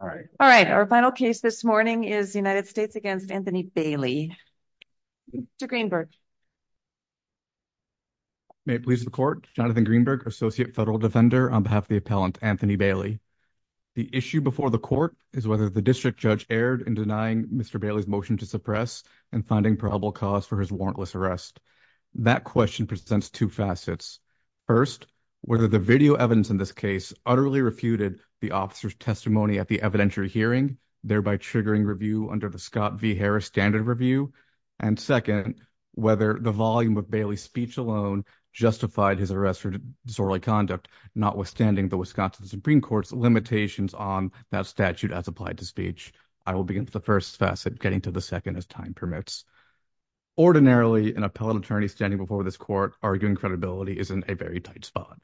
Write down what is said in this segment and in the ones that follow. All right. All right. Our final case this morning is the United States against Anthony Bailey to Greenberg. May it please the court Jonathan Greenberg associate federal defender on behalf of the appellant Anthony Bailey. The issue before the court is whether the district judge aired and denying Mr Bailey's motion to suppress and finding probable cause for his warrantless arrest. That question presents 2 facets 1st, whether the video evidence in this case utterly refuted the officer's testimony at the evidentiary hearing, thereby triggering review under the Scott v. Harris standard review. And 2nd, whether the volume of Bailey speech alone justified his arrest for disorderly conduct, notwithstanding the Wisconsin Supreme Court's limitations on that statute as applied to speech. I will begin to the 1st facet getting to the 2nd as time permits. Ordinarily, an appellate attorney standing before this court, arguing credibility is in a very tight spot.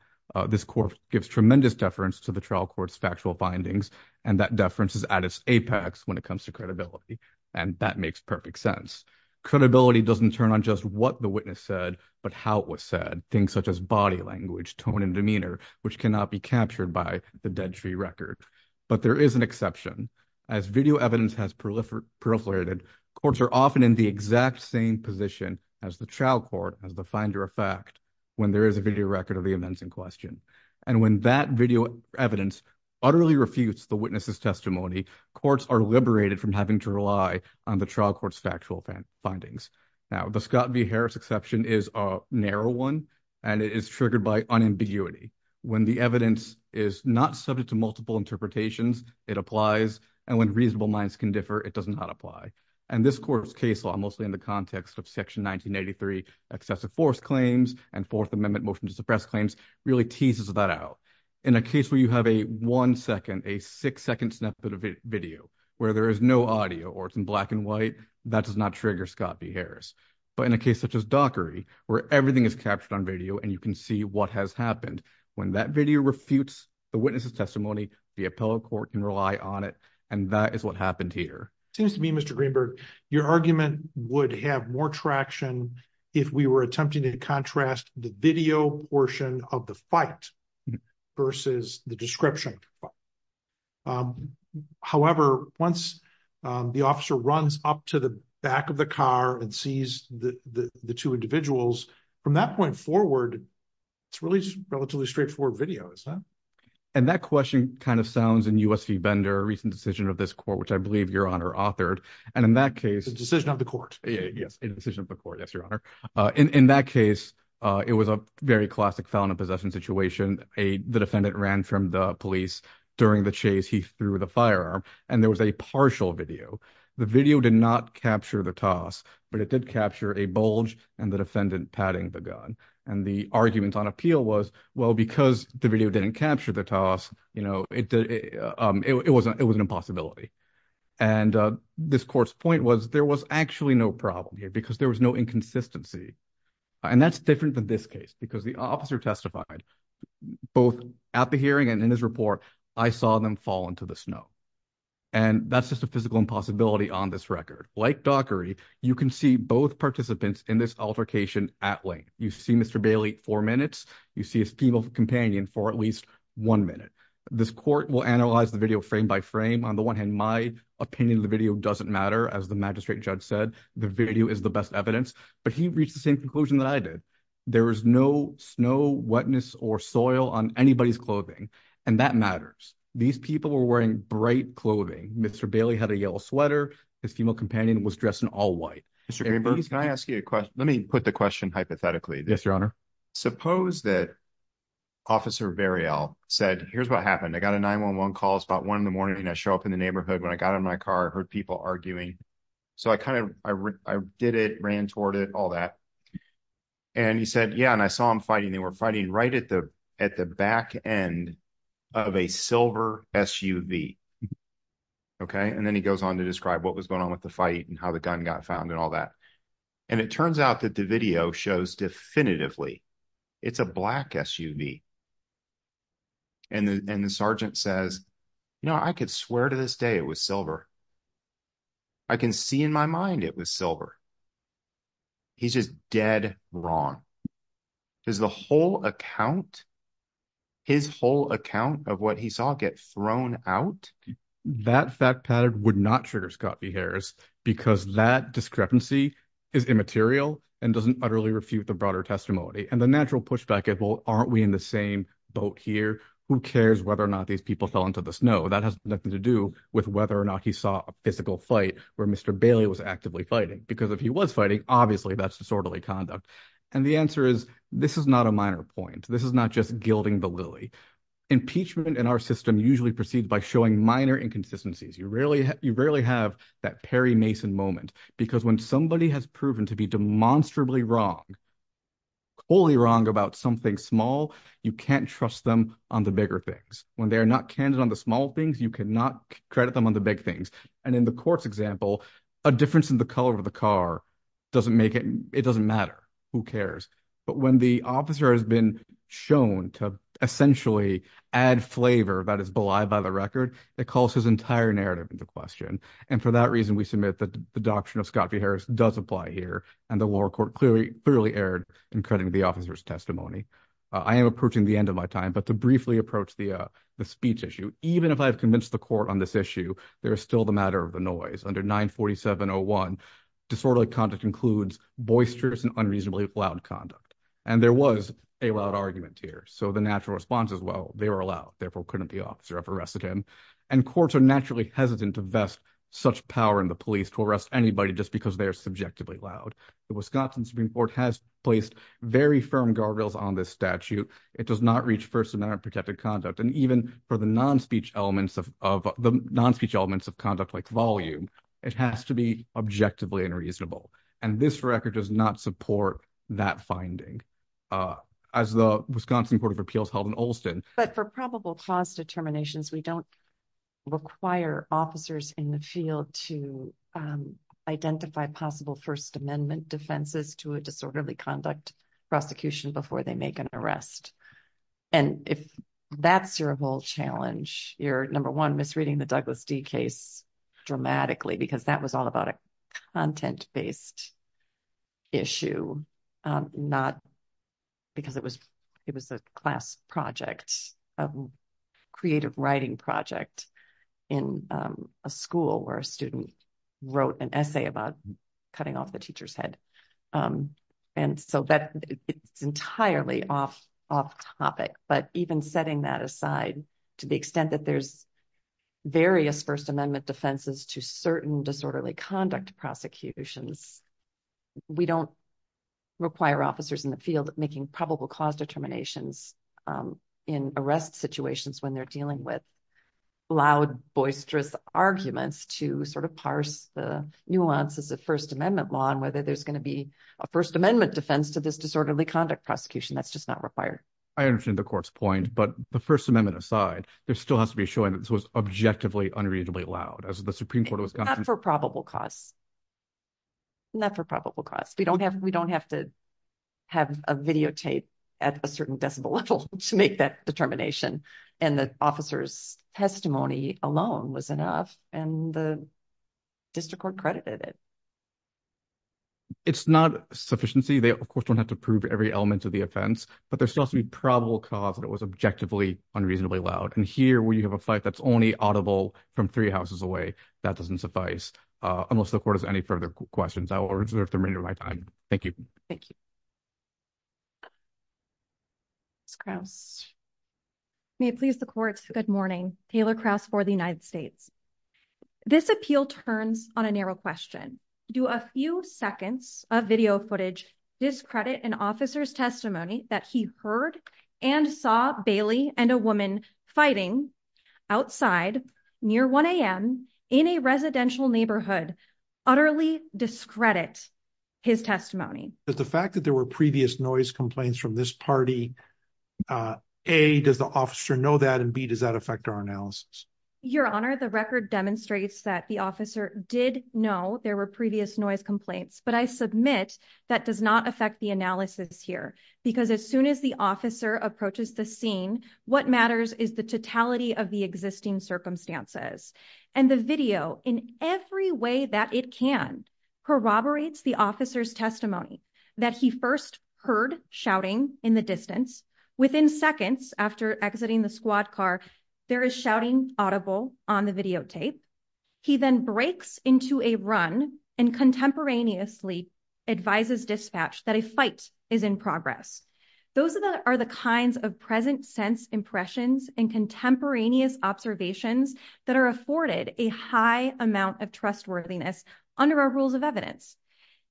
This court gives tremendous deference to the trial courts, factual findings, and that deference is at its apex when it comes to credibility and that makes perfect sense. Credibility doesn't turn on just what the witness said, but how it was said things, such as body language, tone and demeanor, which cannot be captured by the dead tree record. But there is an exception as video evidence has proliferated courts are often in the exact same position as the trial court as the finder of fact. When there is a video record of the events in question, and when that video evidence utterly refutes the witness's testimony, courts are liberated from having to rely on the trial court's factual findings. Now, the Scott v Harris exception is a narrow 1, and it is triggered by unambiguity when the evidence is not subject to multiple interpretations. It applies and when reasonable minds can differ. It does not apply. And this court's case law, mostly in the context of section 1983, excessive force claims and 4th Amendment motion to suppress claims really teases that out in a case where you have a 1 second, a 6 second snippet of video where there is no audio, or it's in black and white that does not trigger Scott v. Harris, but in a case such as dockery, where everything is captured on video and you can see what has happened when that video refutes the witness's testimony, the appellate court can rely on it and that is what happened here. Seems to me, Mr Greenberg, your argument would have more traction if we were attempting to contrast the video portion of the fight versus the description. However, once the officer runs up to the back of the car and sees the 2 individuals from that point forward, it's really relatively straightforward videos. And that question kind of sounds in US v. Bender, recent decision of this court, which I believe your honor authored. And in that case, the decision of the court. Yes, the decision of the court. Yes, your honor. In that case, it was a very classic felon in possession situation. The defendant ran from the police during the chase. He threw the firearm and there was a partial video. The video did not capture the toss, but it did capture a bulge and the defendant patting the gun. And the argument on appeal was, well, because the video didn't capture the toss, it was an impossibility. And this court's point was there was actually no problem here because there was no inconsistency. And that's different than this case, because the officer testified both at the hearing and in his report. I saw them fall into the snow. And that's just a physical impossibility on this record, like, you can see both participants in this altercation at length. You see, Mr. Bailey 4 minutes. You see his female companion for at least 1 minute. This court will analyze the video frame by frame on the 1 hand. My opinion of the video doesn't matter. As the magistrate judge said, the video is the best evidence, but he reached the same conclusion that I did. There is no snow, wetness or soil on anybody's clothing and that matters. These people were wearing bright clothing. Mr. Bailey had a yellow sweater. His female companion was dressed in all white. Mr. Greenberg, can I ask you a question? Let me put the question hypothetically. Yes, your honor. Suppose that. Officer said, here's what happened. I got a 911 calls about 1 in the morning. I show up in the neighborhood when I got in my car, heard people arguing. So, I kind of, I did it, ran toward it, all that and he said, yeah, and I saw him fighting. They were fighting right at the, at the back end of a silver SUV. Okay. And then he goes on to describe what was going on with the fight and how the gun got found and all that. And it turns out that the video shows definitively. It's a black SUV and the, and the sergeant says, no, I could swear to this day. It was silver. I can see in my mind. It was silver. He's just dead wrong is the whole account, his whole account of what he saw get thrown out that fat pattern would not trigger Scott be Harris because that discrepancy is immaterial and doesn't utterly refute the broader testimony and the natural pushback at, well, aren't we in the same boat here who cares whether or not these people fell into the snow that has nothing to do with whether or not he saw it. We saw a physical fight where Mr Bailey was actively fighting because if he was fighting, obviously, that's disorderly conduct. And the answer is, this is not a minor point. This is not just gilding the lily impeachment in our system. Usually proceed by showing minor inconsistencies. You rarely you rarely have that Perry Mason moment, because when somebody has proven to be demonstrably wrong. Only wrong about something small. You can't trust them on the bigger things when they're not candid on the small things. You cannot credit them on the big things. And in the courts example, a difference in the color of the car doesn't make it. It doesn't matter who cares. But when the officer has been shown to essentially add flavor that is belied by the record, it calls his entire narrative into question. And for that reason, we submit that the doctrine of Scott be Harris does apply here and the lower court clearly clearly aired and cutting the officer's testimony. I am approaching the end of my time, but to briefly approach the speech issue, even if I have convinced the court on this issue, there is still the matter of the noise under 947 or 1 disorderly conduct includes boisterous and unreasonably loud. Conduct and there was a loud argument here. So, the natural response as well, they were allowed. Therefore, couldn't be officer of arrested him and courts are naturally hesitant to vest such power in the police to arrest anybody just because they are subjectively loud. The Wisconsin Supreme Court has placed very firm guardrails on this statute. It does not reach 1st, American protected conduct. And even for the non speech elements of the non speech elements of conduct, like volume, it has to be objectively unreasonable. And this record does not support that finding. Uh, as the Wisconsin Court of appeals held in Olson, but for probable cause determinations, we don't. Require officers in the field to, um, identify possible 1st, amendment defenses to a disorderly conduct prosecution before they make an arrest. And if that's your whole challenge, you're number 1 misreading the Douglas D case. Dramatically, because that was all about a content based. Issue, um, not because it was, it was a class project of creative writing project in a school where a student wrote an essay about cutting off the teacher's head. Um, and so that it's entirely off off topic, but even setting that aside to the extent that there's. Various 1st, amendment defenses to certain disorderly conduct prosecutions. We don't require officers in the field, making probable cause determinations in arrest situations when they're dealing with. Loud boisterous arguments to sort of parse the nuances of 1st, amendment law, and whether there's going to be a 1st, amendment defense to this disorderly conduct prosecution. That's just not required. I understand the court's point, but the 1st amendment aside, there still has to be showing that this was objectively unreasonably loud as the Supreme Court was not for probable cause. Not for probable cause we don't have, we don't have to have a videotape at a certain decibel level to make that determination and the officer's testimony alone was enough. And the. District accredited it, it's not sufficiency. They, of course, don't have to prove every element of the offense, but there's still some probable cause that it was objectively unreasonably loud. And here we have a fight. That's only audible from 3 houses away. That doesn't suffice unless the court has any further questions. I will reserve the remainder of my time. Thank you. Thank you. May please the courts good morning Taylor cross for the United States. This appeal turns on a narrow question do a few seconds of video footage discredit and officer's testimony that he heard and saw Bailey and a woman fighting. Outside near 1 am in a residential neighborhood utterly discredit. His testimony is the fact that there were previous noise complaints from this party. A, does the officer know that and B, does that affect our analysis? Your honor the record demonstrates that the officer did know there were previous noise complaints, but I submit that does not affect the analysis here. Because as soon as the officer approaches the scene, what matters is the totality of the existing circumstances and the video in every way that it can corroborates the officer's testimony that he 1st. Heard shouting in the distance within seconds after exiting the squad car. There is shouting audible on the videotape. He then breaks into a run and contemporaneously. Advises dispatch that a fight is in progress. Those are the kinds of present sense impressions and contemporaneous observations that are afforded a high amount of trustworthiness under our rules of evidence.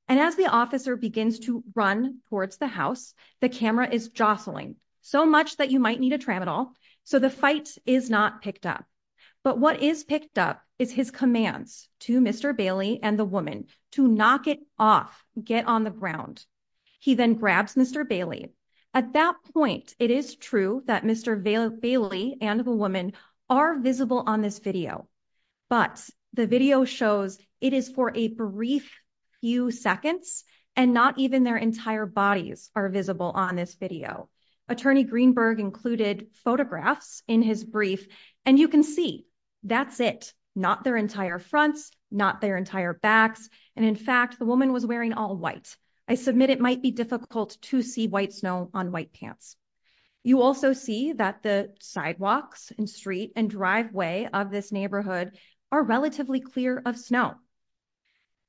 And as the officer begins to run towards the house, the camera is jostling so much that you might need a tram at all. So the fight is not picked up. But what is picked up is his commands to Mr Bailey and the woman to knock it off get on the ground. He then grabs Mr Bailey at that point. It is true that Mr Bailey and the woman are visible on this video. But the video shows it is for a brief. Few seconds, and not even their entire bodies are visible on this video. Attorney Greenberg included photographs in his brief, and you can see that's it. Not their entire fronts, not their entire backs. And in fact, the woman was wearing all white. I submit it might be difficult to see white snow on white pants. You also see that the sidewalks and street and driveway of this neighborhood are relatively clear of snow.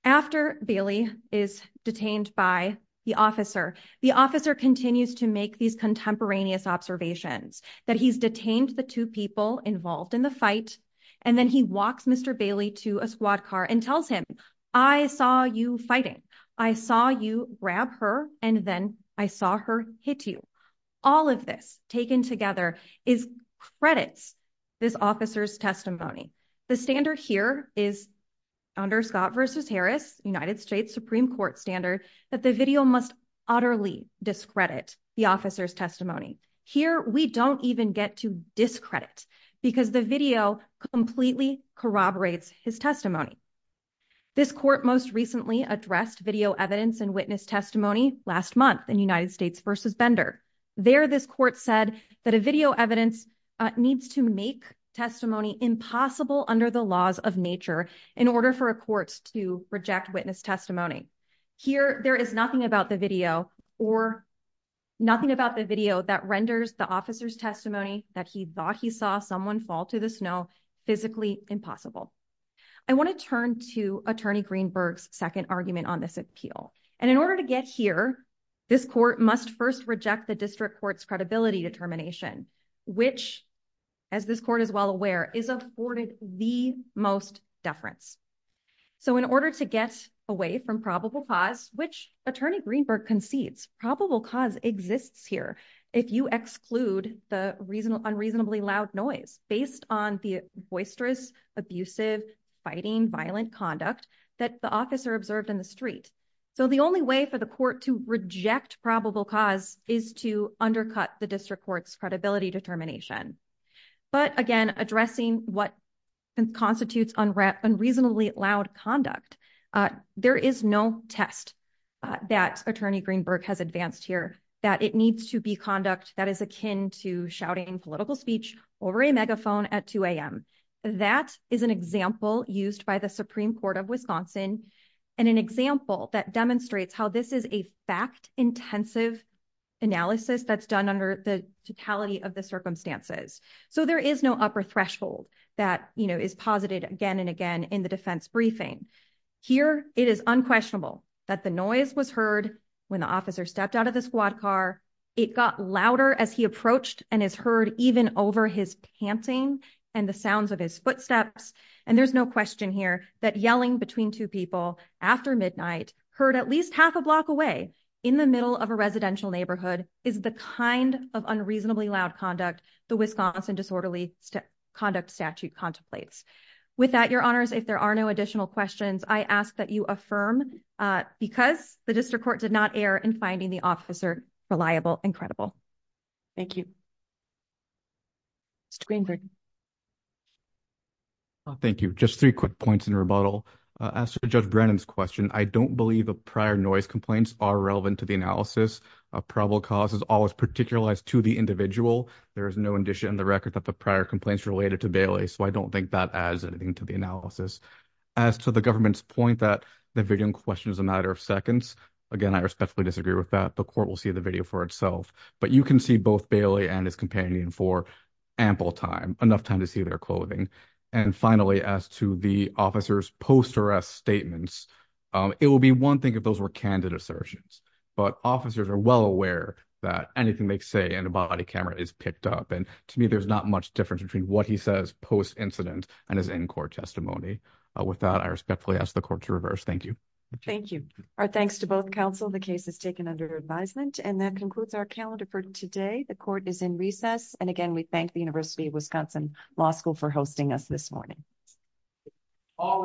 After Bailey is detained by the officer, the officer continues to make these contemporaneous observations that he's detained the two people involved in the fight. And then he walks Mr Bailey to a squad car and tells him, I saw you fighting. I saw you grab her. And then I saw her hit you. All of this taken together is credits. This officer's testimony, the standard here is. Under Scott versus Harris, United States Supreme Court standard that the video must utterly discredit the officer's testimony here. We don't even get to discredit because the video completely corroborates his testimony. This court most recently addressed video evidence and witness testimony last month in United States versus Bender there. This court said that a video evidence needs to make testimony impossible under the laws of nature in order for a court to reject witness testimony here. There is nothing about the video or. Nothing about the video that renders the officer's testimony that he thought he saw someone fall to the snow physically impossible. I want to turn to attorney Greenberg's 2nd argument on this appeal. And in order to get here, this court must 1st, reject the district court's credibility determination, which. As this court is well aware is afforded the most deference. So, in order to get away from probable cause, which attorney Greenberg concedes probable cause exists here. If you exclude the reasonable, unreasonably loud noise based on the boisterous, abusive fighting, violent conduct that the officer observed in the street. So, the only way for the court to reject probable cause is to undercut the district court's credibility determination. But again, addressing what constitutes unreasonably loud conduct, there is no test. That attorney Greenberg has advanced here that it needs to be conduct that is akin to shouting political speech over a megaphone at 2 am. That is an example used by the Supreme Court of Wisconsin. And an example that demonstrates how this is a fact intensive. Analysis that's done under the totality of the circumstances. So, there is no upper threshold that is posited again and again in the defense briefing. Here, it is unquestionable that the noise was heard when the officer stepped out of the squad car. It got louder as he approached and is heard even over his panting and the sounds of his footsteps. And there's no question here that yelling between 2 people after midnight heard at least half a block away in the middle of a residential neighborhood is the kind of unreasonably loud conduct. The Wisconsin disorderly conduct statute contemplates. With that, your honors, if there are no additional questions, I ask that you affirm because the district court did not air and finding the officer reliable. Incredible. Thank you. Thank you just 3 quick points in rebuttal. As to judge Brandon's question, I don't believe a prior noise complaints are relevant to the analysis of probable causes always particularized to the individual. There is no addition in the record that the prior complaints related to Bailey. So, I don't think that adds anything to the analysis. As to the government's point that the question is a matter of seconds. Again, I respectfully disagree with that. The court will see the video for itself. But you can see both Bailey and his companion for ample time enough time to see their clothing. And finally, as to the officers post arrest statements. It will be 1 thing if those were candid assertions. But officers are well aware that anything they say in a body camera is picked up. And to me, there's not much difference between what he says post incident and his in court testimony without. I respectfully ask the court to reverse. Thank you. Thank you. Our thanks to both counsel. The case is taken under advisement and that concludes our calendar for today. The court is in recess. And again, we thank the University of Wisconsin law school for hosting us this morning. All right.